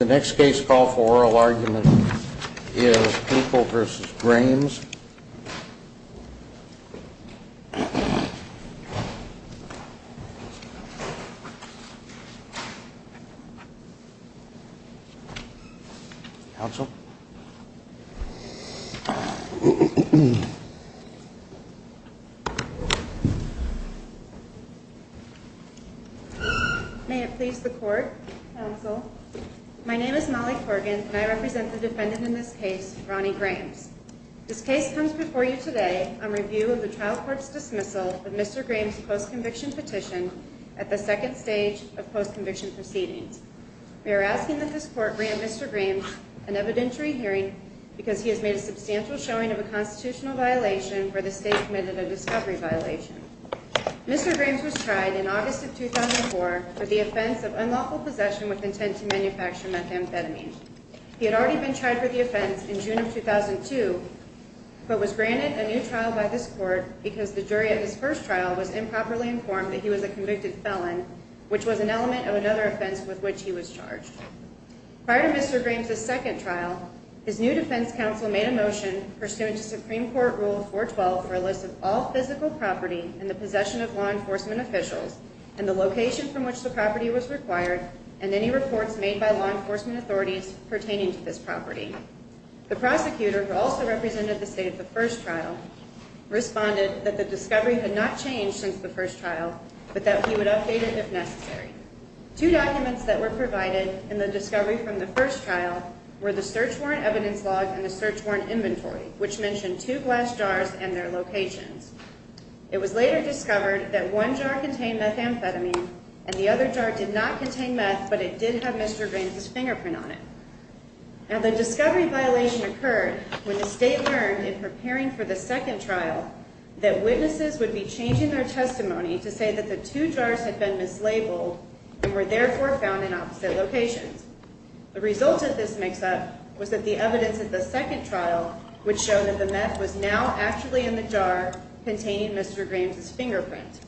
The next case call for oral argument is People v. Grames. People v. Grames The case comes before you today on review of the trial court's dismissal of Mr. Grames' post-conviction petition at the second stage of post-conviction proceedings. We are asking that this court grant Mr. Grames an evidentiary hearing because he has made a substantial showing of a constitutional violation where the state committed a discovery violation. Mr. Grames was tried in August of 2004 for the offense of unlawful possession with intent to manufacture methamphetamine. He had already been tried for the offense in June of 2002 but was granted a new trial by this court because the jury at his first trial was improperly informed that he was a convicted felon, which was an element of another offense with which he was charged. Prior to Mr. Grames' second trial, his new defense counsel made a motion pursuant to Supreme Court Rule 412 for a list of all physical property in the possession of law enforcement officials and the location from which the property was required and any reports made by law enforcement authorities pertaining to this property. The prosecutor, who also represented the state at the first trial, responded that the discovery had not changed since the first trial but that he would update it if necessary. Two documents that were provided in the discovery from the first trial were the search warrant evidence log and the search warrant inventory, which mentioned two glass jars and their locations. It was later discovered that one jar contained methamphetamine and the other jar did not contain meth but it did have Mr. Grames' fingerprint on it. Now, the discovery violation occurred when the state learned in preparing for the second trial that witnesses would be changing their testimony to say that the two jars had been mislabeled and were therefore found in opposite locations. The result of this mix-up was that the evidence at the second trial would show that the meth was now actually in the jar containing Mr. Grames' fingerprint.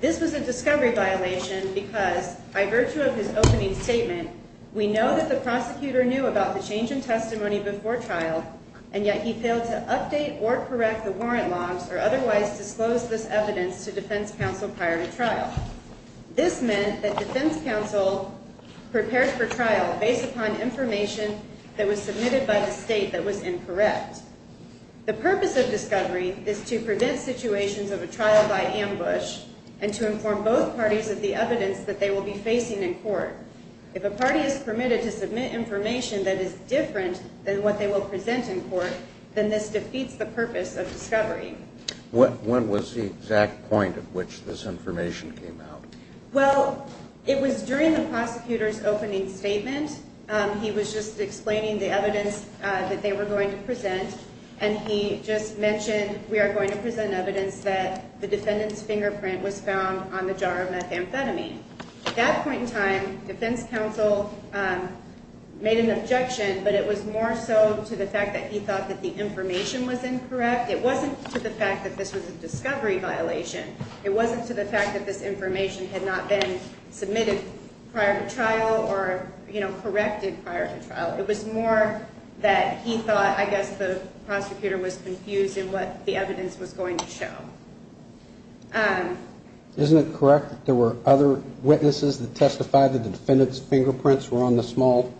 This was a discovery violation because, by virtue of his opening statement, we know that the prosecutor knew about the change in testimony before trial, and yet he failed to update or correct the warrant logs or otherwise disclose this evidence to defense counsel prior to trial. This meant that defense counsel prepared for trial based upon information that was submitted by the state that was incorrect. The purpose of discovery is to prevent situations of a trial by ambush and to inform both parties of the evidence that they will be facing in court. If a party is permitted to submit information that is different than what they will present in court, then this defeats the purpose of discovery. When was the exact point at which this information came out? Well, it was during the prosecutor's opening statement. He was just explaining the evidence that they were going to present, and he just mentioned, we are going to present evidence that the defendant's fingerprint was found on the jar of methamphetamine. At that point in time, defense counsel made an objection, but it was more so to the fact that he thought that the information was incorrect. It wasn't to the fact that this was a discovery violation. It wasn't to the fact that this information had not been submitted prior to trial or corrected prior to trial. It was more that he thought, I guess, the prosecutor was confused in what the evidence was going to show. Isn't it correct that there were other witnesses that testified that the defendant's fingerprints were on the small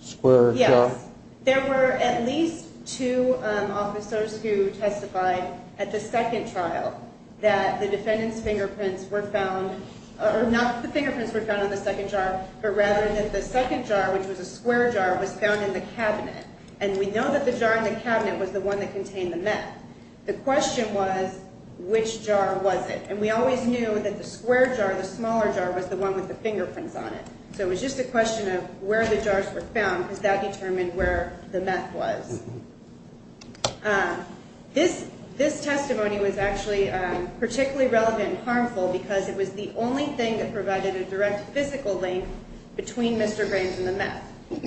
square jar? Yes. There were at least two officers who testified at the second trial that the defendant's fingerprints were found, or not that the fingerprints were found on the second jar, but rather that the second jar, which was a square jar, was found in the cabinet. And we know that the jar in the cabinet was the one that contained the meth. The question was, which jar was it? And we always knew that the square jar, the smaller jar, was the one with the fingerprints on it. So it was just a question of where the jars were found because that determined where the meth was. This testimony was actually particularly relevant and harmful because it was the only thing that provided a direct physical link between Mr. Graves and the meth.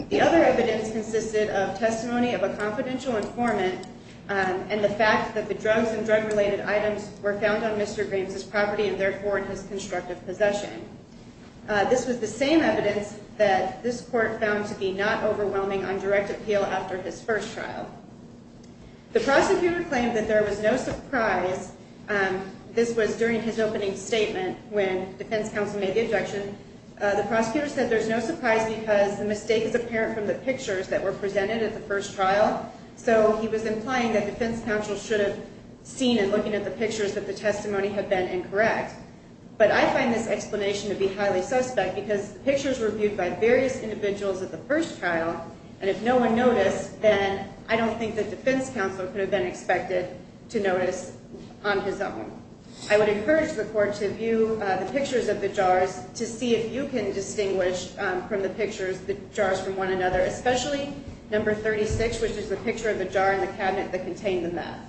The other evidence consisted of testimony of a confidential informant and the fact that the drugs and drug-related items were found on Mr. Graves' property and, therefore, in his constructive possession. This was the same evidence that this court found to be not overwhelming on direct appeal after his first trial. The prosecutor claimed that there was no surprise. This was during his opening statement when defense counsel made the objection. The prosecutor said there's no surprise because the mistake is apparent from the pictures that were presented at the first trial. So he was implying that defense counsel should have seen and looking at the pictures that the testimony had been incorrect. But I find this explanation to be highly suspect because the pictures were viewed by various individuals at the first trial, and if no one noticed, then I don't think that defense counsel could have been expected to notice on his own. I would encourage the court to view the pictures of the jars to see if you can distinguish from the pictures the jars from one another, especially number 36, which is the picture of the jar in the cabinet that contained the meth.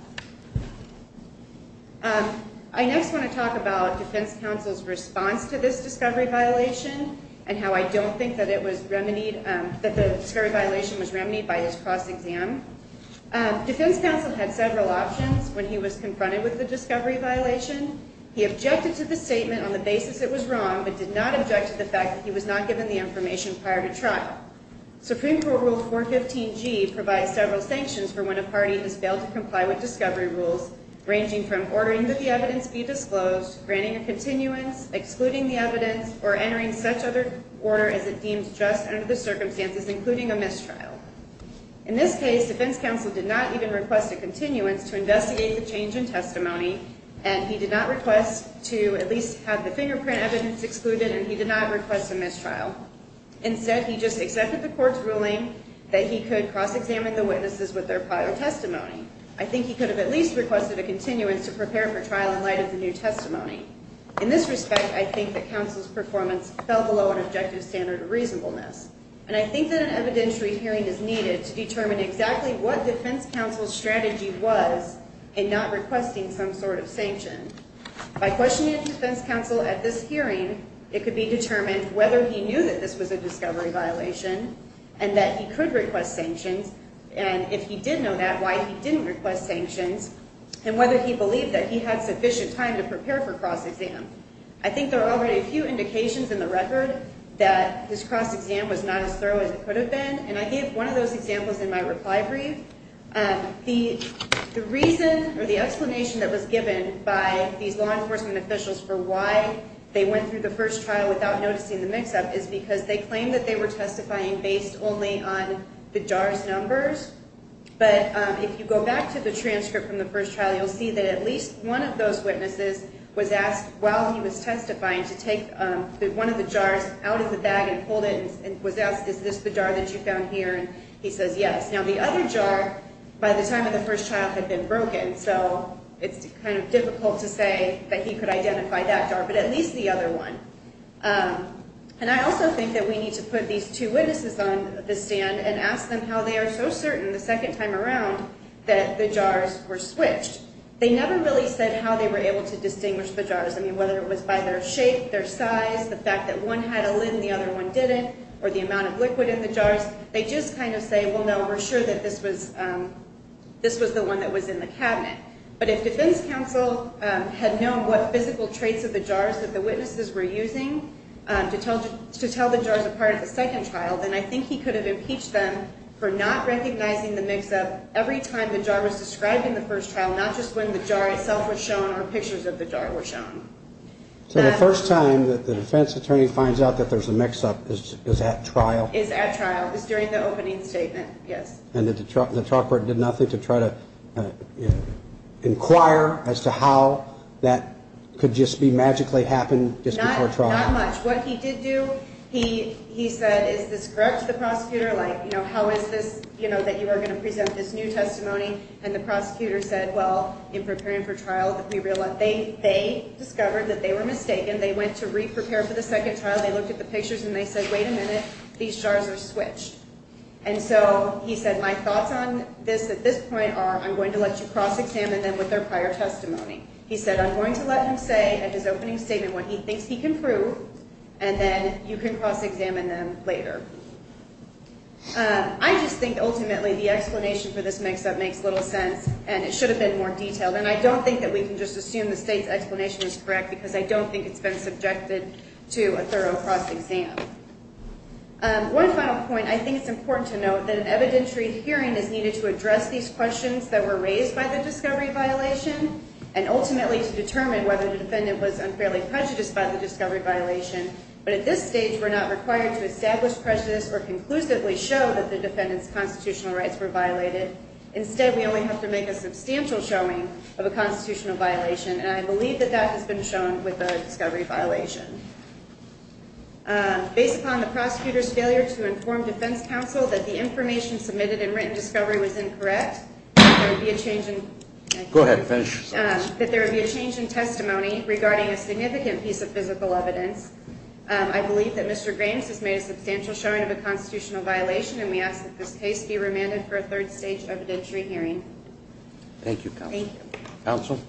I next want to talk about defense counsel's response to this discovery violation and how I don't think that the discovery violation was remedied by his cross-exam. Defense counsel had several options when he was confronted with the discovery violation. He objected to the statement on the basis it was wrong but did not object to the fact that he was not given the information prior to trial. Supreme Court Rule 415G provides several sanctions for when a party has failed to comply with discovery rules, ranging from ordering that the evidence be disclosed, granting a continuance, excluding the evidence, or entering such other order as it deemed just under the circumstances, including a mistrial. In this case, defense counsel did not even request a continuance to investigate the change in testimony, and he did not request to at least have the fingerprint evidence excluded, and he did not request a mistrial. Instead, he just accepted the court's ruling that he could cross-examine the witnesses with their prior testimony. I think he could have at least requested a continuance to prepare for trial in light of the new testimony. In this respect, I think that counsel's performance fell below an objective standard of reasonableness, and I think that an evidentiary hearing is needed to determine exactly what defense counsel's strategy was in not requesting some sort of sanction. By questioning defense counsel at this hearing, it could be determined whether he knew that this was a discovery violation and that he could request sanctions, and if he did know that, why he didn't request sanctions, and whether he believed that he had sufficient time to prepare for cross-exam. I think there are already a few indications in the record that his cross-exam was not as thorough as it could have been, and I gave one of those examples in my reply brief. The reason or the explanation that was given by these law enforcement officials for why they went through the first trial without noticing the mix-up is because they claimed that they were testifying based only on the jar's numbers, but if you go back to the transcript from the first trial, you'll see that at least one of those witnesses was asked, while he was testifying, to take one of the jars out of the bag and hold it and was asked, is this the jar that you found here, and he says yes. Now, the other jar, by the time of the first trial, had been broken, so it's kind of difficult to say that he could identify that jar, but at least the other one. And I also think that we need to put these two witnesses on the stand and ask them how they are so certain the second time around that the jars were switched. They never really said how they were able to distinguish the jars. I mean, whether it was by their shape, their size, the fact that one had a lid and the other one didn't, or the amount of liquid in the jars, they just kind of say, well, no, we're sure that this was the one that was in the cabinet. But if defense counsel had known what physical traits of the jars that the witnesses were using to tell the jars apart at the second trial, then I think he could have impeached them for not recognizing the mix-up every time the jar was described in the first trial, not just when the jar itself was shown or pictures of the jar were shown. So the first time that the defense attorney finds out that there's a mix-up is at trial? Is at trial, is during the opening statement, yes. And the trial court did nothing to try to inquire as to how that could just be magically happened just before trial? Not much. What he did do, he said, is this correct, the prosecutor? Like, you know, how is this, you know, that you are going to present this new testimony? And the prosecutor said, well, in preparing for trial, we realize they discovered that they were mistaken. They went to re-prepare for the second trial. They looked at the pictures, and they said, wait a minute. These jars are switched. And so he said, my thoughts on this at this point are I'm going to let you cross-examine them with their prior testimony. He said, I'm going to let him say at his opening statement what he thinks he can prove, and then you can cross-examine them later. I just think ultimately the explanation for this mix-up makes little sense, and it should have been more detailed. And I don't think that we can just assume the state's explanation is correct because I don't think it's been subjected to a thorough cross-exam. One final point, I think it's important to note that an evidentiary hearing is needed to address these questions that were raised by the discovery violation and ultimately to determine whether the defendant was unfairly prejudiced by the discovery violation. But at this stage, we're not required to establish prejudice or conclusively show that the defendant's constitutional rights were violated. Instead, we only have to make a substantial showing of a constitutional violation, and I believe that that has been shown with the discovery violation. Based upon the prosecutor's failure to inform defense counsel that the information submitted in written discovery was incorrect, that there would be a change in testimony regarding a significant piece of physical evidence. I believe that Mr. Grames has made a substantial showing of a constitutional violation, and we ask that this case be remanded for a third stage evidentiary hearing. Thank you, counsel. Thank you. Counsel?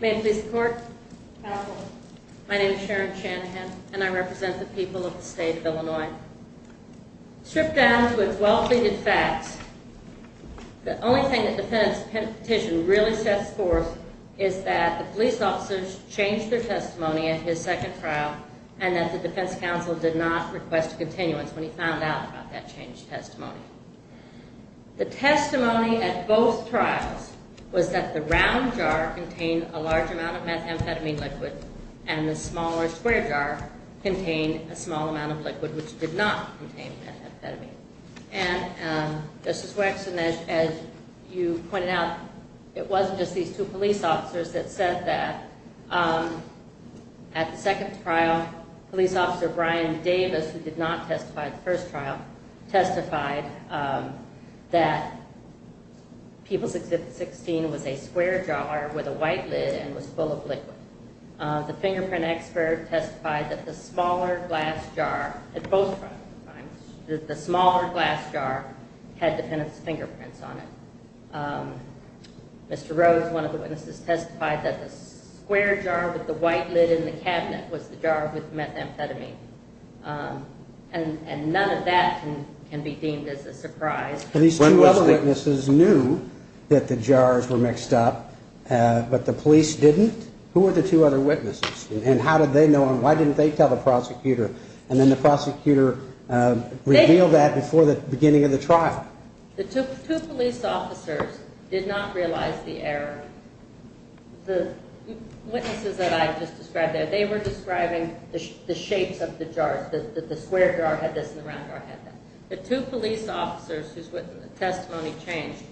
May it please the Court? Counsel? My name is Sharon Shanahan, and I represent the people of the state of Illinois. Stripped down to its well-pleaded facts, the only thing that the defense petition really sets forth is that the police officers changed their testimony at his second trial and that the defense counsel did not request a continuance when he found out about that changed testimony. The testimony at both trials was that the round jar contained a large amount of methamphetamine liquid and the smaller square jar contained a small amount of liquid which did not contain methamphetamine. And, Justice Waxman, as you pointed out, it wasn't just these two police officers that said that. At the second trial, Police Officer Brian Davis, who did not testify at the first trial, testified that People's Exhibit 16 was a square jar with a white lid and was full of liquid. The fingerprint expert testified that the smaller glass jar had defendant's fingerprints on it. Mr. Rose, one of the witnesses, testified that the square jar with the white lid in the cabinet was the jar with methamphetamine. And none of that can be deemed as a surprise. These two other witnesses knew that the jars were mixed up, but the police didn't? Who were the two other witnesses, and how did they know, and why didn't they tell the prosecutor? And then the prosecutor revealed that before the beginning of the trial. The two police officers did not realize the error. The witnesses that I just described there, they were describing the shapes of the jars, that the square jar had this and the round jar had that. The two police officers whose testimony changed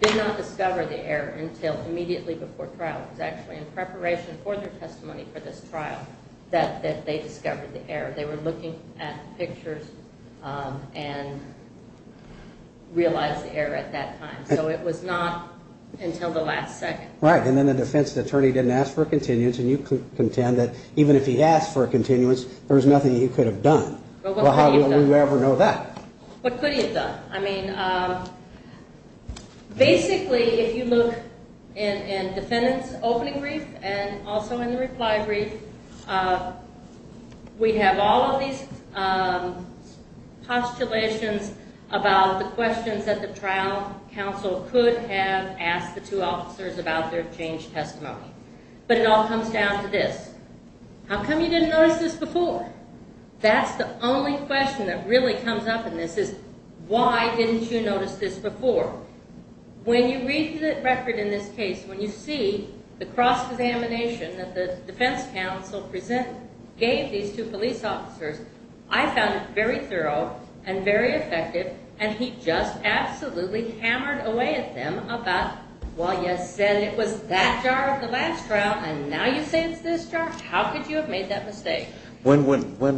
did not discover the error until immediately before trial. It was actually in preparation for their testimony for this trial that they discovered the error. They were looking at pictures and realized the error at that time. So it was not until the last second. Right, and then the defense attorney didn't ask for a continuance, and you contend that even if he asked for a continuance, there was nothing he could have done. Well, how do we ever know that? What could he have done? I mean, basically, if you look in defendant's opening brief and also in the reply brief, we have all of these postulations about the questions that the trial counsel could have asked the two officers about their changed testimony. But it all comes down to this. How come you didn't notice this before? That's the only question that really comes up in this is, why didn't you notice this before? When you read the record in this case, when you see the cross-examination that the defense counsel gave these two police officers, I found it very thorough and very effective, and he just absolutely hammered away at them about, well, you said it was that jar of the last round, and now you say it's this jar? How could you have made that mistake? When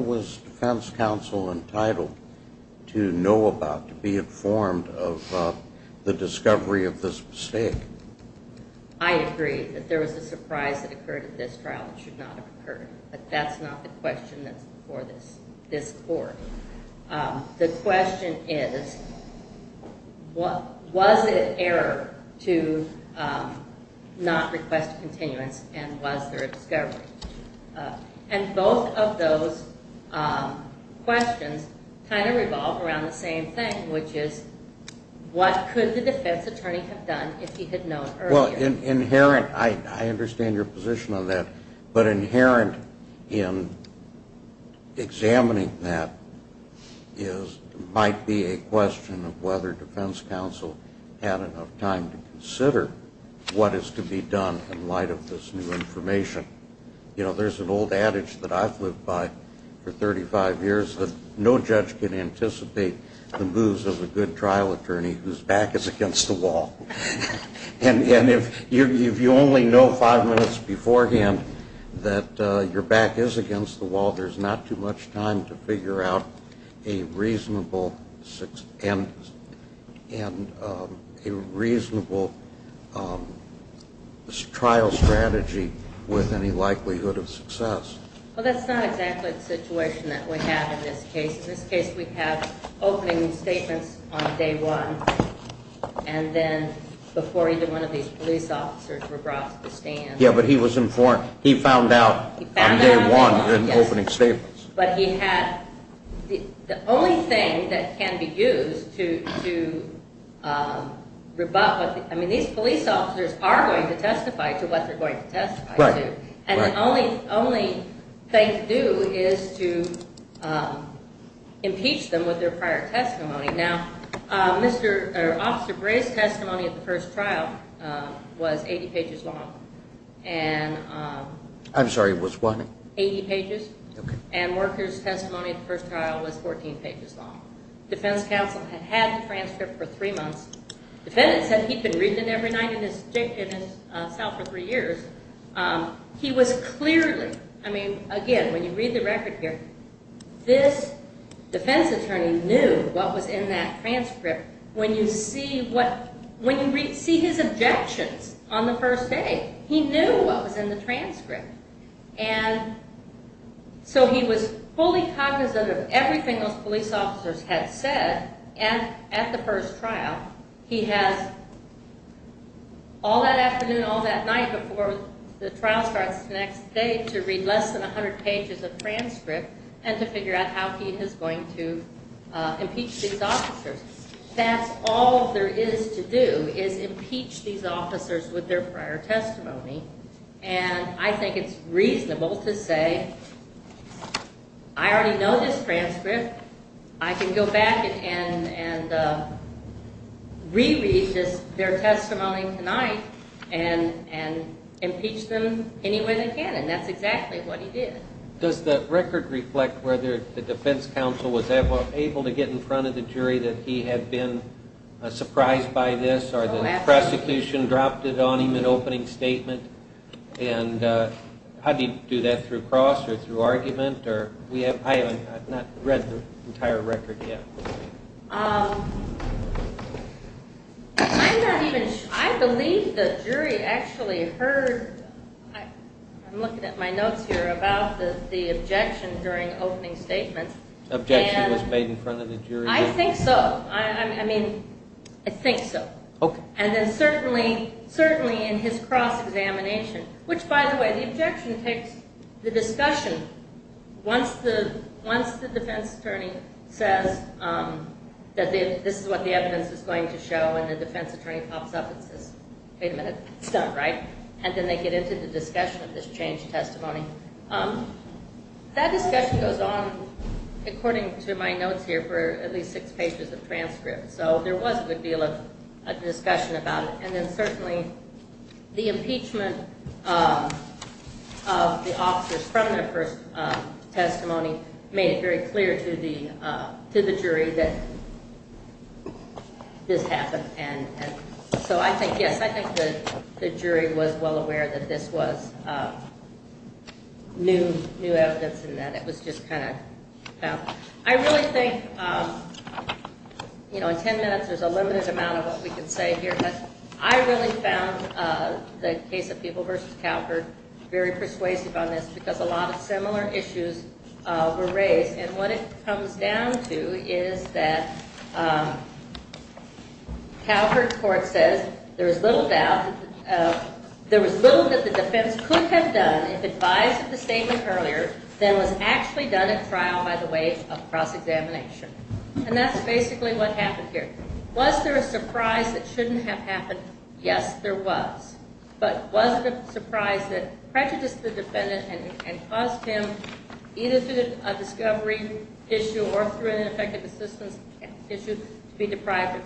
was defense counsel entitled to know about, to be informed of the discovery of this mistake? I agree that there was a surprise that occurred at this trial that should not have occurred, but that's not the question that's before this court. The question is, was it error to not request a continuance, and was there a discovery? And both of those questions kind of revolve around the same thing, which is, what could the defense attorney have done if he had known earlier? Well, inherent, I understand your position on that, but inherent in examining that might be a question of whether defense counsel had enough time to consider what is to be done in light of this new information. You know, there's an old adage that I've lived by for 35 years, that no judge can anticipate the moves of a good trial attorney whose back is against the wall. And if you only know five minutes beforehand that your back is against the wall, there's not too much time to figure out a reasonable trial strategy with any likelihood of success. Well, that's not exactly the situation that we have in this case. In this case, we have opening statements on day one, and then before either one of these police officers were brought to the stand. Yeah, but he was informed. He found out on day one in opening statements. But he had – the only thing that can be used to – I mean, these police officers are going to testify to what they're going to testify to. And the only thing to do is to impeach them with their prior testimony. Now, Officer Bray's testimony at the first trial was 80 pages long. I'm sorry, it was what? Eighty pages. Okay. And Worker's testimony at the first trial was 14 pages long. Defense counsel had had the transcript for three months. The defendant said he'd been reading it every night in his cell for three years. He was clearly – I mean, again, when you read the record here, this defense attorney knew what was in that transcript. When you see what – when you see his objections on the first day, he knew what was in the transcript. And so he was fully cognizant of everything those police officers had said at the first trial. He has all that afternoon, all that night before the trial starts the next day to read less than 100 pages of transcript and to figure out how he is going to impeach these officers. That's all there is to do is impeach these officers with their prior testimony. And I think it's reasonable to say I already know this transcript. I can go back and reread their testimony tonight and impeach them any way they can. And that's exactly what he did. Does the record reflect whether the defense counsel was able to get in front of the jury that he had been surprised by this or the prosecution dropped it on him in opening statement? And how did he do that, through cross or through argument? I have not read the entire record yet. I'm not even – I believe the jury actually heard – I'm looking at my notes here – about the objection during opening statement. Objection was made in front of the jury? I think so. I mean, I think so. Okay. And then certainly in his cross-examination, which, by the way, the objection takes the discussion once the defense attorney says that this is what the evidence is going to show and the defense attorney pops up and says, wait a minute, it's done, right? And then they get into the discussion of this changed testimony. That discussion goes on, according to my notes here, for at least six pages of transcript. So there was a good deal of discussion about it. And then certainly the impeachment of the officers from their first testimony made it very clear to the jury that this happened. And so I think, yes, I think the jury was well aware that this was new evidence and that it was just kind of – I really think, you know, in ten minutes there's a limited amount of what we can say here. But I really found the case of Peeble v. Calvert very persuasive on this because a lot of similar issues were raised. And what it comes down to is that Calvert's court says there was little doubt – there was little that the defense could have done if advised of the statement earlier than was actually done at trial by the way of cross-examination. And that's basically what happened here. Was there a surprise that shouldn't have happened? Yes, there was. But was there a surprise that prejudiced the defendant and caused him, either through a discovery issue or through an ineffective assistance issue, to be deprived of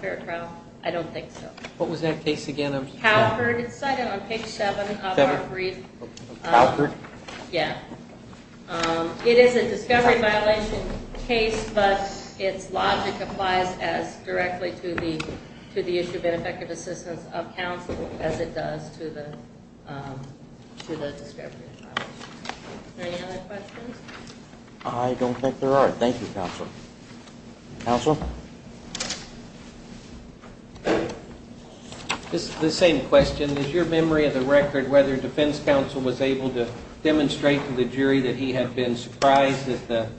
fair trial? I don't think so. What was that case again of? Calvert. It's cited on page 7 of our brief. Calvert? Yeah. It is a discovery violation case, but its logic applies as directly to the issue of ineffective assistance of counsel as it does to the discovery violation. Any other questions? I don't think there are. Thank you, counsel. Counsel? This is the same question. Is your memory of the record whether defense counsel was able to demonstrate to the jury that he had been surprised that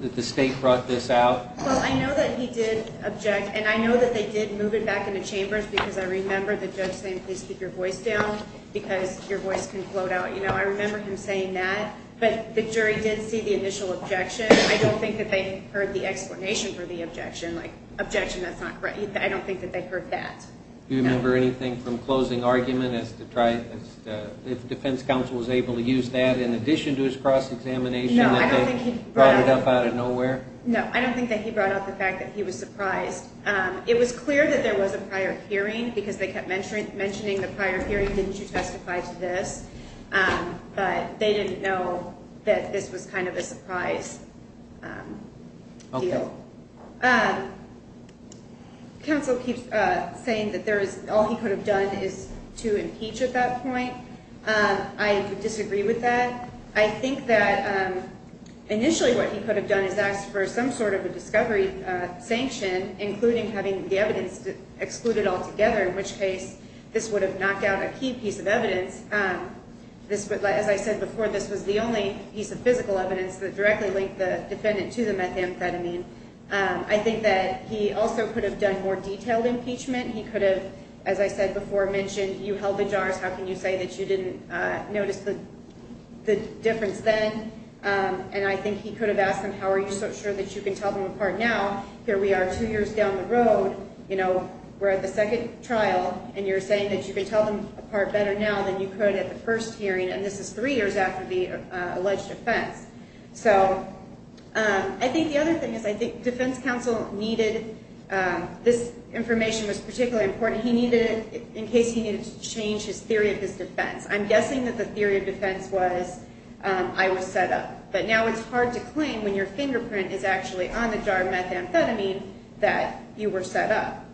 the state brought this out? Well, I know that he did object, and I know that they did move it back into chambers because I remember the judge saying, please keep your voice down because your voice can float out. You know, I remember him saying that. But the jury did see the initial objection. I don't think that they heard the explanation for the objection. Like, objection, that's not correct. I don't think that they heard that. Do you remember anything from closing argument as to if defense counsel was able to use that in addition to his cross-examination that they brought it up out of nowhere? No, I don't think that he brought up the fact that he was surprised. It was clear that there was a prior hearing because they kept mentioning the prior hearing, didn't you testify to this? But they didn't know that this was kind of a surprise. Okay. Counsel. Counsel keeps saying that all he could have done is to impeach at that point. I disagree with that. I think that initially what he could have done is asked for some sort of a discovery sanction, including having the evidence excluded altogether, in which case this would have knocked out a key piece of evidence. As I said before, this was the only piece of physical evidence that directly linked the defendant to the methamphetamine. I think that he also could have done more detailed impeachment. He could have, as I said before, mentioned you held the jars. How can you say that you didn't notice the difference then? And I think he could have asked them, how are you so sure that you can tell them apart now? Here we are two years down the road. You know, we're at the second trial, and you're saying that you can tell them apart better now than you could at the first hearing, and this is three years after the alleged offense. So I think the other thing is I think defense counsel needed this information. It was particularly important. He needed it in case he needed to change his theory of his defense. I'm guessing that the theory of defense was I was set up, but now it's hard to claim when your fingerprint is actually on the jar of methamphetamine that you were set up.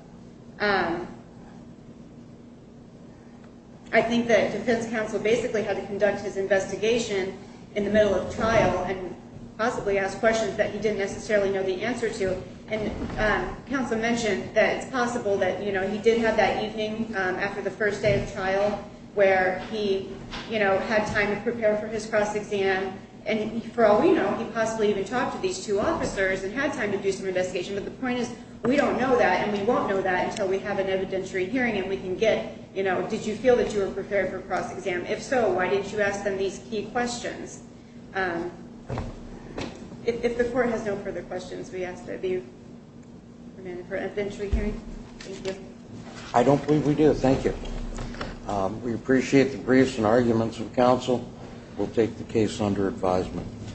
I think that defense counsel basically had to conduct his investigation in the middle of trial and possibly ask questions that he didn't necessarily know the answer to. And counsel mentioned that it's possible that, you know, he did have that evening after the first day of trial where he, you know, had time to prepare for his cross-exam, and for all we know, he possibly even talked to these two officers and had time to do some investigation. But the point is we don't know that and we won't know that until we have an evidentiary hearing and we can get, you know, did you feel that you were prepared for cross-exam? If so, why didn't you ask them these key questions? If the court has no further questions, we ask that you come in for an evidentiary hearing. Thank you. I don't believe we do. Thank you. We appreciate the briefs and arguments of counsel. We'll take the case under advisement.